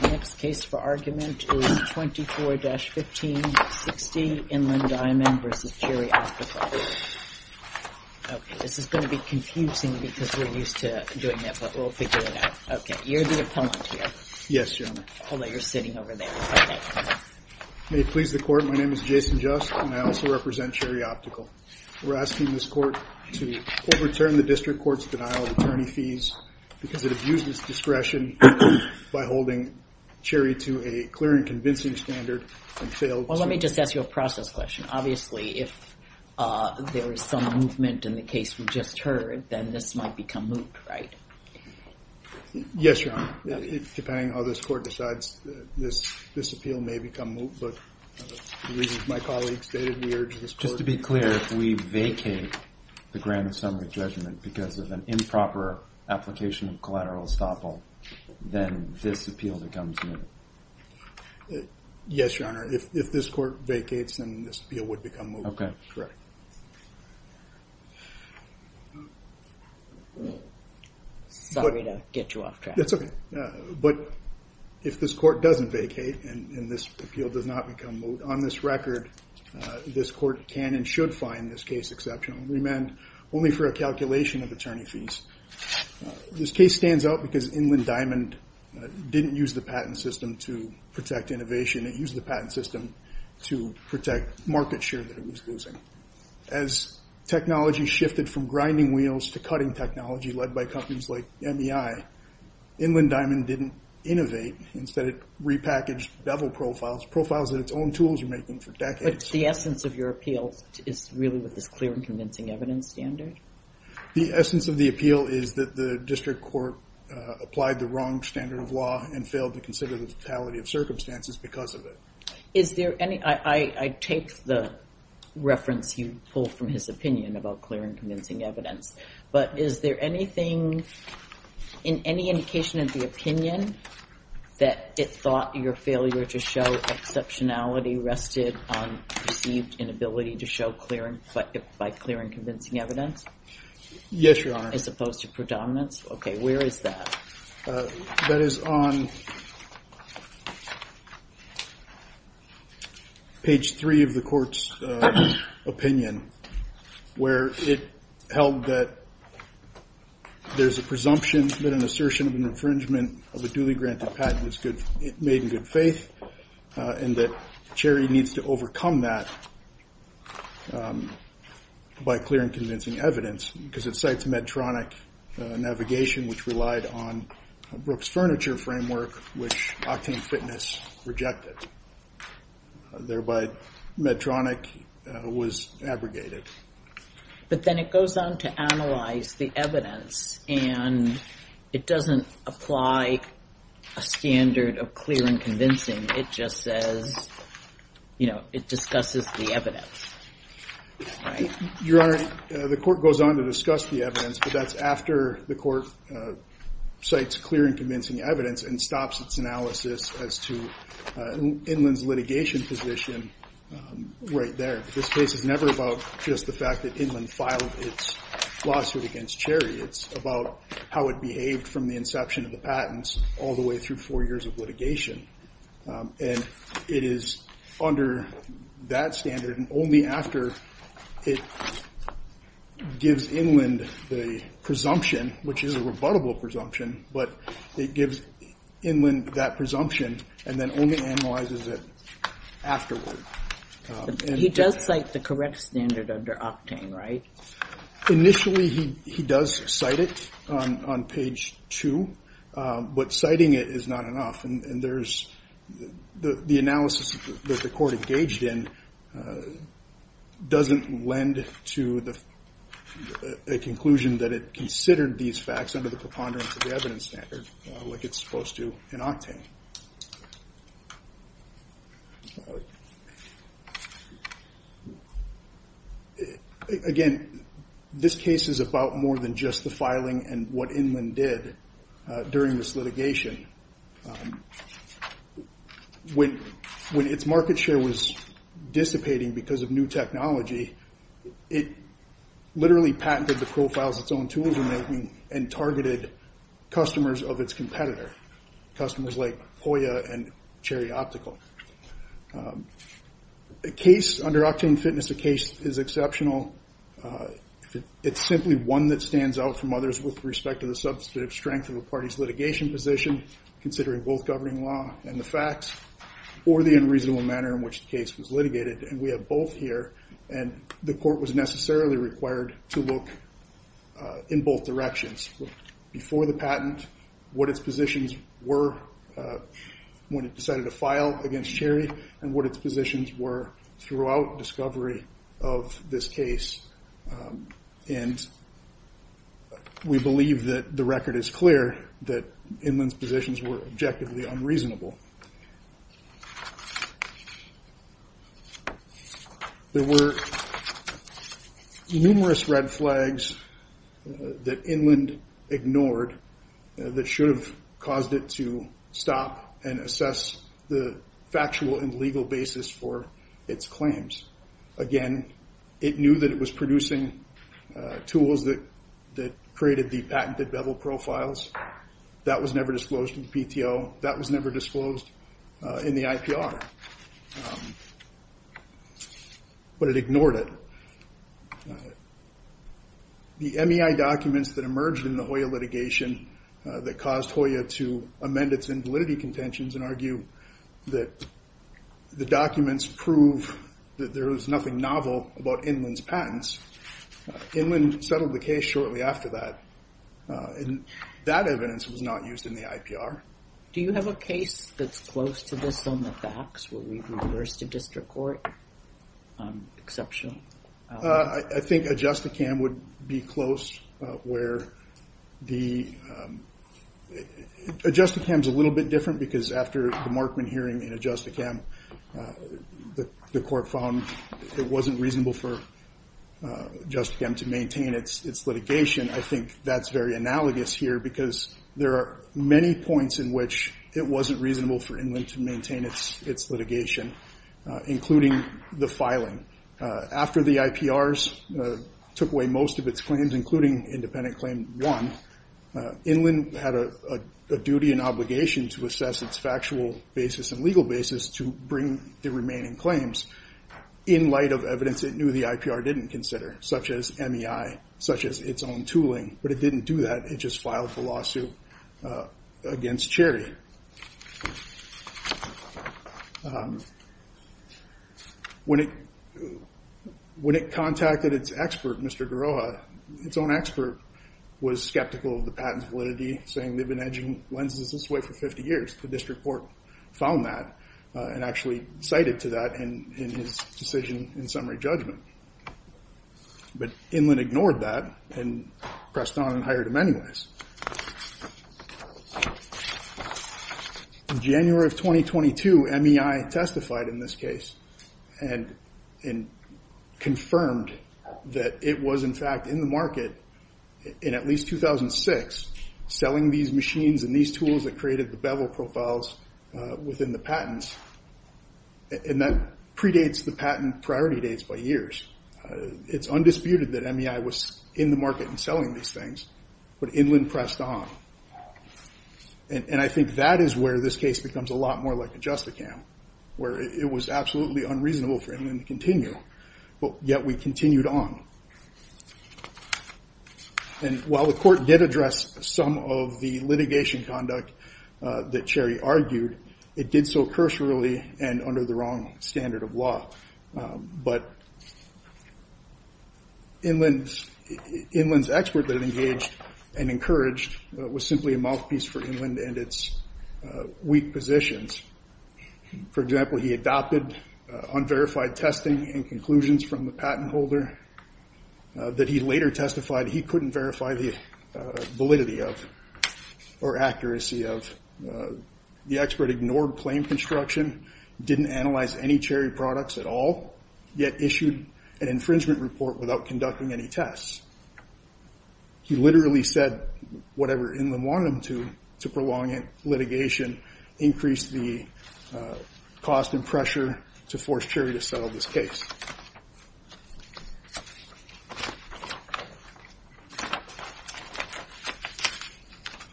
The next case for argument is 24-1560 Inland Diamond v. Cherry Optical. Okay, this is going to be confusing because we're used to doing that, but we'll figure it out. Okay, you're the opponent here. Yes, Your Honor. Although you're sitting over there. Okay. May it please the Court, my name is Jason Just, and I also represent Cherry Optical. We're asking this Court to overturn the District Court's denial of attorney fees because it abuses discretion by holding Cherry to a clear and convincing standard and failed to... Well, let me just ask you a process question. Obviously, if there is some movement in the case we just heard, then this might become moot, right? Yes, Your Honor. Depending on how this Court decides, this appeal may become moot, but the reasons my colleagues stated, we urge this Court... If there is an application of collateral estoppel, then this appeal becomes moot. Yes, Your Honor. If this Court vacates, then this appeal would become moot. Correct. Sorry to get you off track. That's okay. But if this Court doesn't vacate and this appeal does not become moot, on this record, this Court can and should find this case exceptional. only for a calculation of attorney fees. This case stands out because Inland Diamond didn't use the patent system to protect innovation. It used the patent system to protect market share that it was losing. As technology shifted from grinding wheels to cutting technology led by companies like MEI, Inland Diamond didn't innovate. Instead, it repackaged bevel profiles, profiles that its own tools were making for decades. The essence of your appeal is really with this clear and convincing evidence standard? The essence of the appeal is that the district court applied the wrong standard of law and failed to consider the totality of circumstances because of it. I take the reference you pulled from his opinion about clear and convincing evidence, but is there anything in any indication of the opinion that it thought your failure to show exceptionality rested on perceived inability to show by clear and convincing evidence? Yes, Your Honor. As opposed to predominance? Okay, where is that? That is on page three of the Court's opinion, where it held that there's a presumption, an assertion of infringement of a duly granted patent made in good faith, and that Cherry needs to overcome that by clear and convincing evidence because it cites Medtronic navigation, which relied on Brooks Furniture Framework, which Octane Fitness rejected. Thereby, Medtronic was abrogated. But then it goes on to analyze the evidence, and it doesn't apply a standard of clear and convincing. It just says it discusses the evidence. Your Honor, the court goes on to discuss the evidence, but that's after the court cites clear and convincing evidence and stops its analysis as to Inland's litigation position right there. This case is never about just the fact that Inland filed its lawsuit against Cherry. It's about how it behaved from the inception of the patents all the way through four years of litigation, and it is under that standard and only after it gives Inland the presumption, which is a rebuttable presumption, but it gives Inland that presumption and then only analyzes it afterward. He does cite the correct standard under Octane, right? Initially, he does cite it on page two, but citing it is not enough, and the analysis that the court engaged in doesn't lend to a conclusion that it considered these facts under the preponderance of the evidence standard like it's supposed to in Octane. Again, this case is about more than just the filing and what Inland did during this litigation. When its market share was dissipating because of new technology, it literally patented the profiles its own tools were making and targeted customers of its competitor, customers like Poya and Cherry Optical. Under Octane Fitness, the case is exceptional. It's simply one that stands out from others with respect to the substantive strength of a party's litigation position, considering both governing law and the facts or the unreasonable manner in which the case was litigated, and we have both here, and the court was necessarily required to look in both directions. Before the patent, what its positions were when it decided to file against Cherry and what its positions were throughout discovery of this case, and we believe that the record is clear that Inland's positions were objectively unreasonable. There were numerous red flags that Inland ignored that should have caused it to stop and assess the factual and legal basis for its claims. Again, it knew that it was producing tools that created the patented bevel profiles. That was never disclosed in the PTO. That was never disclosed in the IPR, but it ignored it. The MEI documents that emerged in the Hoya litigation that caused Hoya to amend its invalidity contentions and argue that the documents prove that there is nothing novel about Inland's patents, Inland settled the case shortly after that, and that evidence was not used in the IPR. Do you have a case that's close to this on the facts, where we've reversed a district court exception? I think Adjusticam would be close where the—Adjusticam's a little bit different because after the Markman hearing in Adjusticam, the court found it wasn't reasonable for Adjusticam to maintain its litigation. I think that's very analogous here because there are many points in which it wasn't reasonable for Inland to maintain its litigation, including the filing. After the IPRs took away most of its claims, including independent claim one, Inland had a duty and obligation to assess its factual basis and legal basis to bring the remaining claims in light of evidence it knew the IPR didn't consider, such as MEI, such as its own tooling. But it didn't do that. It just filed the lawsuit against Cherry. When it contacted its expert, Mr. Garroha, its own expert was skeptical of the patent validity, saying they've been edging lenses this way for 50 years. The district court found that and actually cited to that in his decision in summary judgment. But Inland ignored that and pressed on and hired him anyways. In January of 2022, MEI testified in this case and confirmed that it was in fact in the market in at least 2006 selling these machines and these tools that created the bevel profiles within the patents. And that predates the patent priority dates by years. It's undisputed that MEI was in the market and selling these things. But Inland pressed on. And I think that is where this case becomes a lot more like a justicam, where it was absolutely unreasonable for Inland to continue. But yet we continued on. And while the court did address some of the litigation conduct that Cherry argued, it did so cursorily and under the wrong standard of law. But Inland's expert that engaged and encouraged was simply a mouthpiece for Inland and its weak positions. For example, he adopted unverified testing and conclusions from the patent holder that he later testified he couldn't verify the validity of or accuracy of. The expert ignored claim construction, didn't analyze any Cherry products at all, yet issued an infringement report without conducting any tests. He literally said whatever Inland wanted him to, to prolong litigation, increase the cost and pressure to force Cherry to settle this case.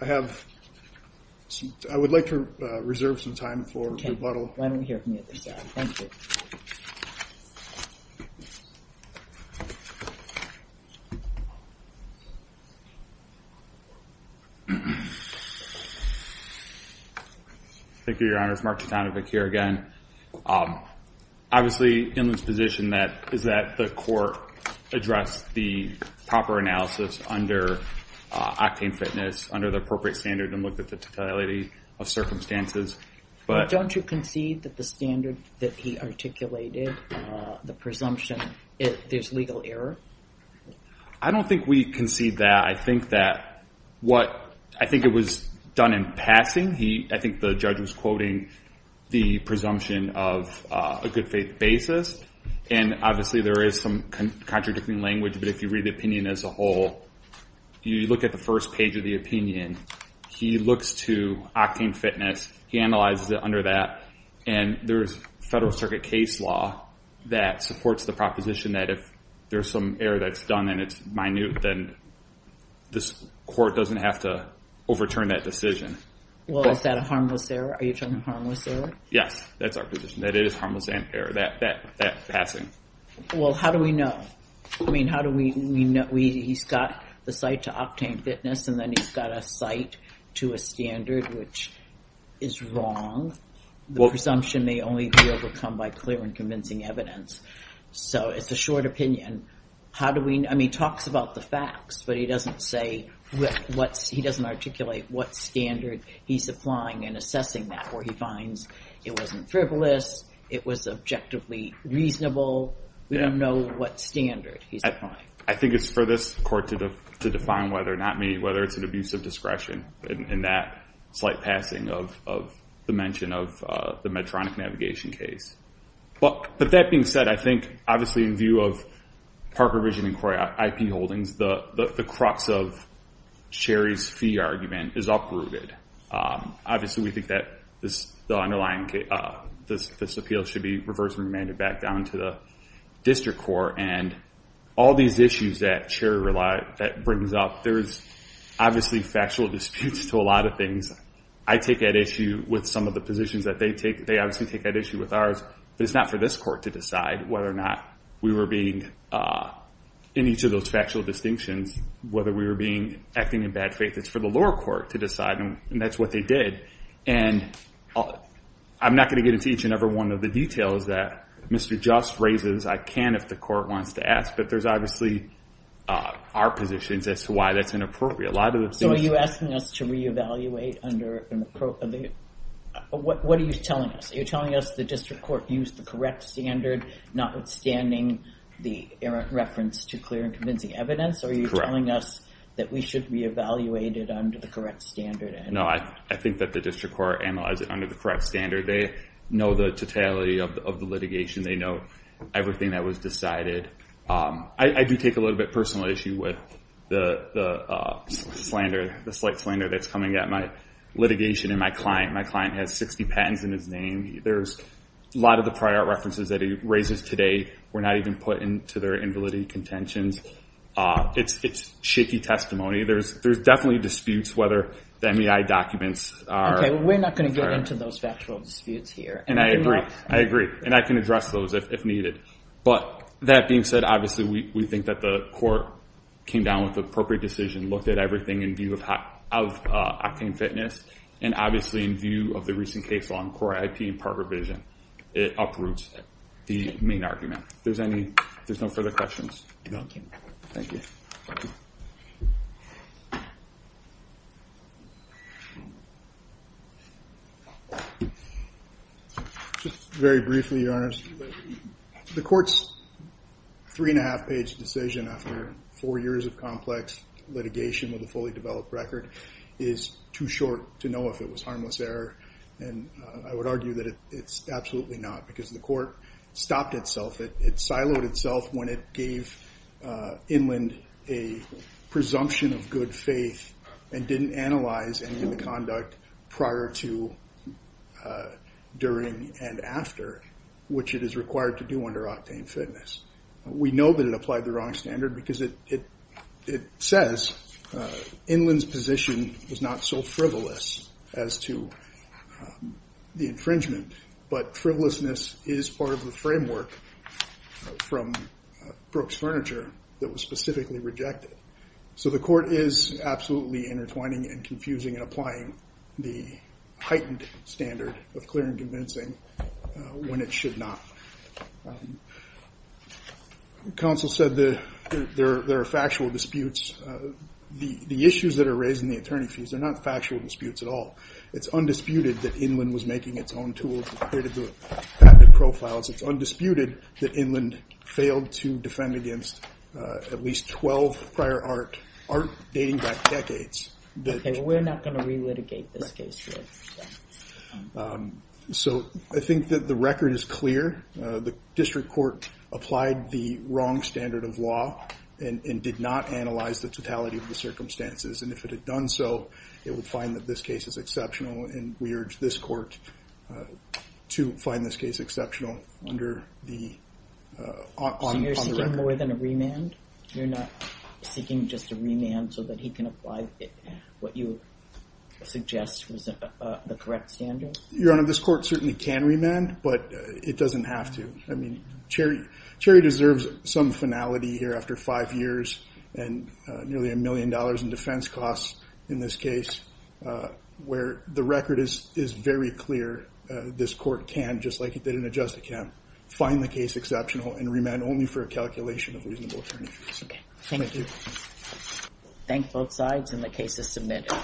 I have, I would like to reserve some time for rebuttal. Okay. Why don't we hear from you at this hour. Thank you. Thank you, Your Honor. It's Mark Tatanovic here again. Obviously, Inland's position is that the court addressed the proper analysis under octane fitness, under the appropriate standard and looked at the totality of circumstances. Don't you concede that the standard that he articulated, the presumption, there's legal error? I don't think we concede that. I think that what, I think it was done in passing. I think the judge was quoting the presumption of a good faith basis, and obviously there is some contradicting language, but if you read the opinion as a whole, you look at the first page of the opinion, he looks to octane fitness, he analyzes it under that, and there's federal circuit case law that supports the proposition that if there's some error that's done and it's minute, then this court doesn't have to overturn that decision. Well, is that a harmless error? Are you talking harmless error? Yes, that's our position, that it is harmless error, that passing. Well, how do we know? I mean, he's got the site to octane fitness, and then he's got a site to a standard, which is wrong. The presumption may only be overcome by clear and convincing evidence. So it's a short opinion. I mean, he talks about the facts, but he doesn't articulate what standard he's applying and assessing that, where he finds it wasn't frivolous, it was objectively reasonable. We don't know what standard he's applying. I think it's for this court to define whether or not it's an abuse of discretion in that slight passing of the mention of the Medtronic navigation case. But that being said, I think, obviously, in view of Parker Vision and Corey IP holdings, the crux of Cherry's fee argument is uprooted. Obviously, we think that this appeal should be reversed and remanded back down to the district court, and all these issues that Cherry brings up, there's obviously factual disputes to a lot of things. I take that issue with some of the positions that they take. They obviously take that issue with ours, but it's not for this court to decide whether or not we were being, in each of those factual distinctions, whether we were acting in bad faith. It's for the lower court to decide, and that's what they did. And I'm not going to get into each and every one of the details that Mr. Just raises. I can if the court wants to ask, but there's obviously our positions as to why that's inappropriate. So are you asking us to re-evaluate under an appropriate? What are you telling us? Are you telling us the district court used the correct standard, notwithstanding the reference to clear and convincing evidence? Correct. Or are you telling us that we should re-evaluate it under the correct standard? No, I think that the district court analyzed it under the correct standard. They know the totality of the litigation. They know everything that was decided. I do take a little bit personal issue with the slander, the slight slander that's coming at my litigation and my client. My client has 60 patents in his name. A lot of the prior references that he raises today were not even put into their invalidity contentions. It's shaky testimony. There's definitely disputes whether the MEI documents are correct. Okay, we're not going to get into those factual disputes here. I agree, and I can address those if needed. But that being said, obviously we think that the court came down with the appropriate decision, looked at everything in view of Octane Fitness, and obviously in view of the recent case law on core IP and part revision. It uproots the main argument. If there's no further questions. Thank you. Just very briefly, Your Honor. The court's three and a half page decision after four years of complex litigation with a fully developed record is too short to know if it was harmless error. And I would argue that it's absolutely not because the court stopped itself. It siloed itself when it gave Inland a presumption of good faith and didn't analyze any of the conduct prior to, during, and after, which it is required to do under Octane Fitness. We know that it applied the wrong standard because it says Inland's position was not so frivolous as to the infringement. But frivolousness is part of the framework from Brooks Furniture that was specifically rejected. So the court is absolutely intertwining and confusing and applying the heightened standard of clear and convincing when it should not. Counsel said there are factual disputes. The issues that are raised in the attorney fees are not factual disputes at all. It's undisputed that Inland was making its own tools and created the patented profiles. It's undisputed that Inland failed to defend against at least 12 prior art, art dating back decades. We're not going to re-litigate this case here. So I think that the record is clear. The district court applied the wrong standard of law and did not analyze the totality of the circumstances. And if it had done so, it would find that this case is exceptional. And we urge this court to find this case exceptional under the. You're seeking more than a remand. You're not seeking just a remand so that he can apply what you suggest was the correct standard. Your Honor, this court certainly can remand, but it doesn't have to. I mean, Cherry, Cherry deserves some finality here after five years and nearly a million dollars in defense. Costs in this case where the record is, is very clear. This court can, just like it didn't adjust, it can find the case exceptional and remand only for a calculation of reasonable attorney. OK, thank you. Thank both sides and the case is submitted.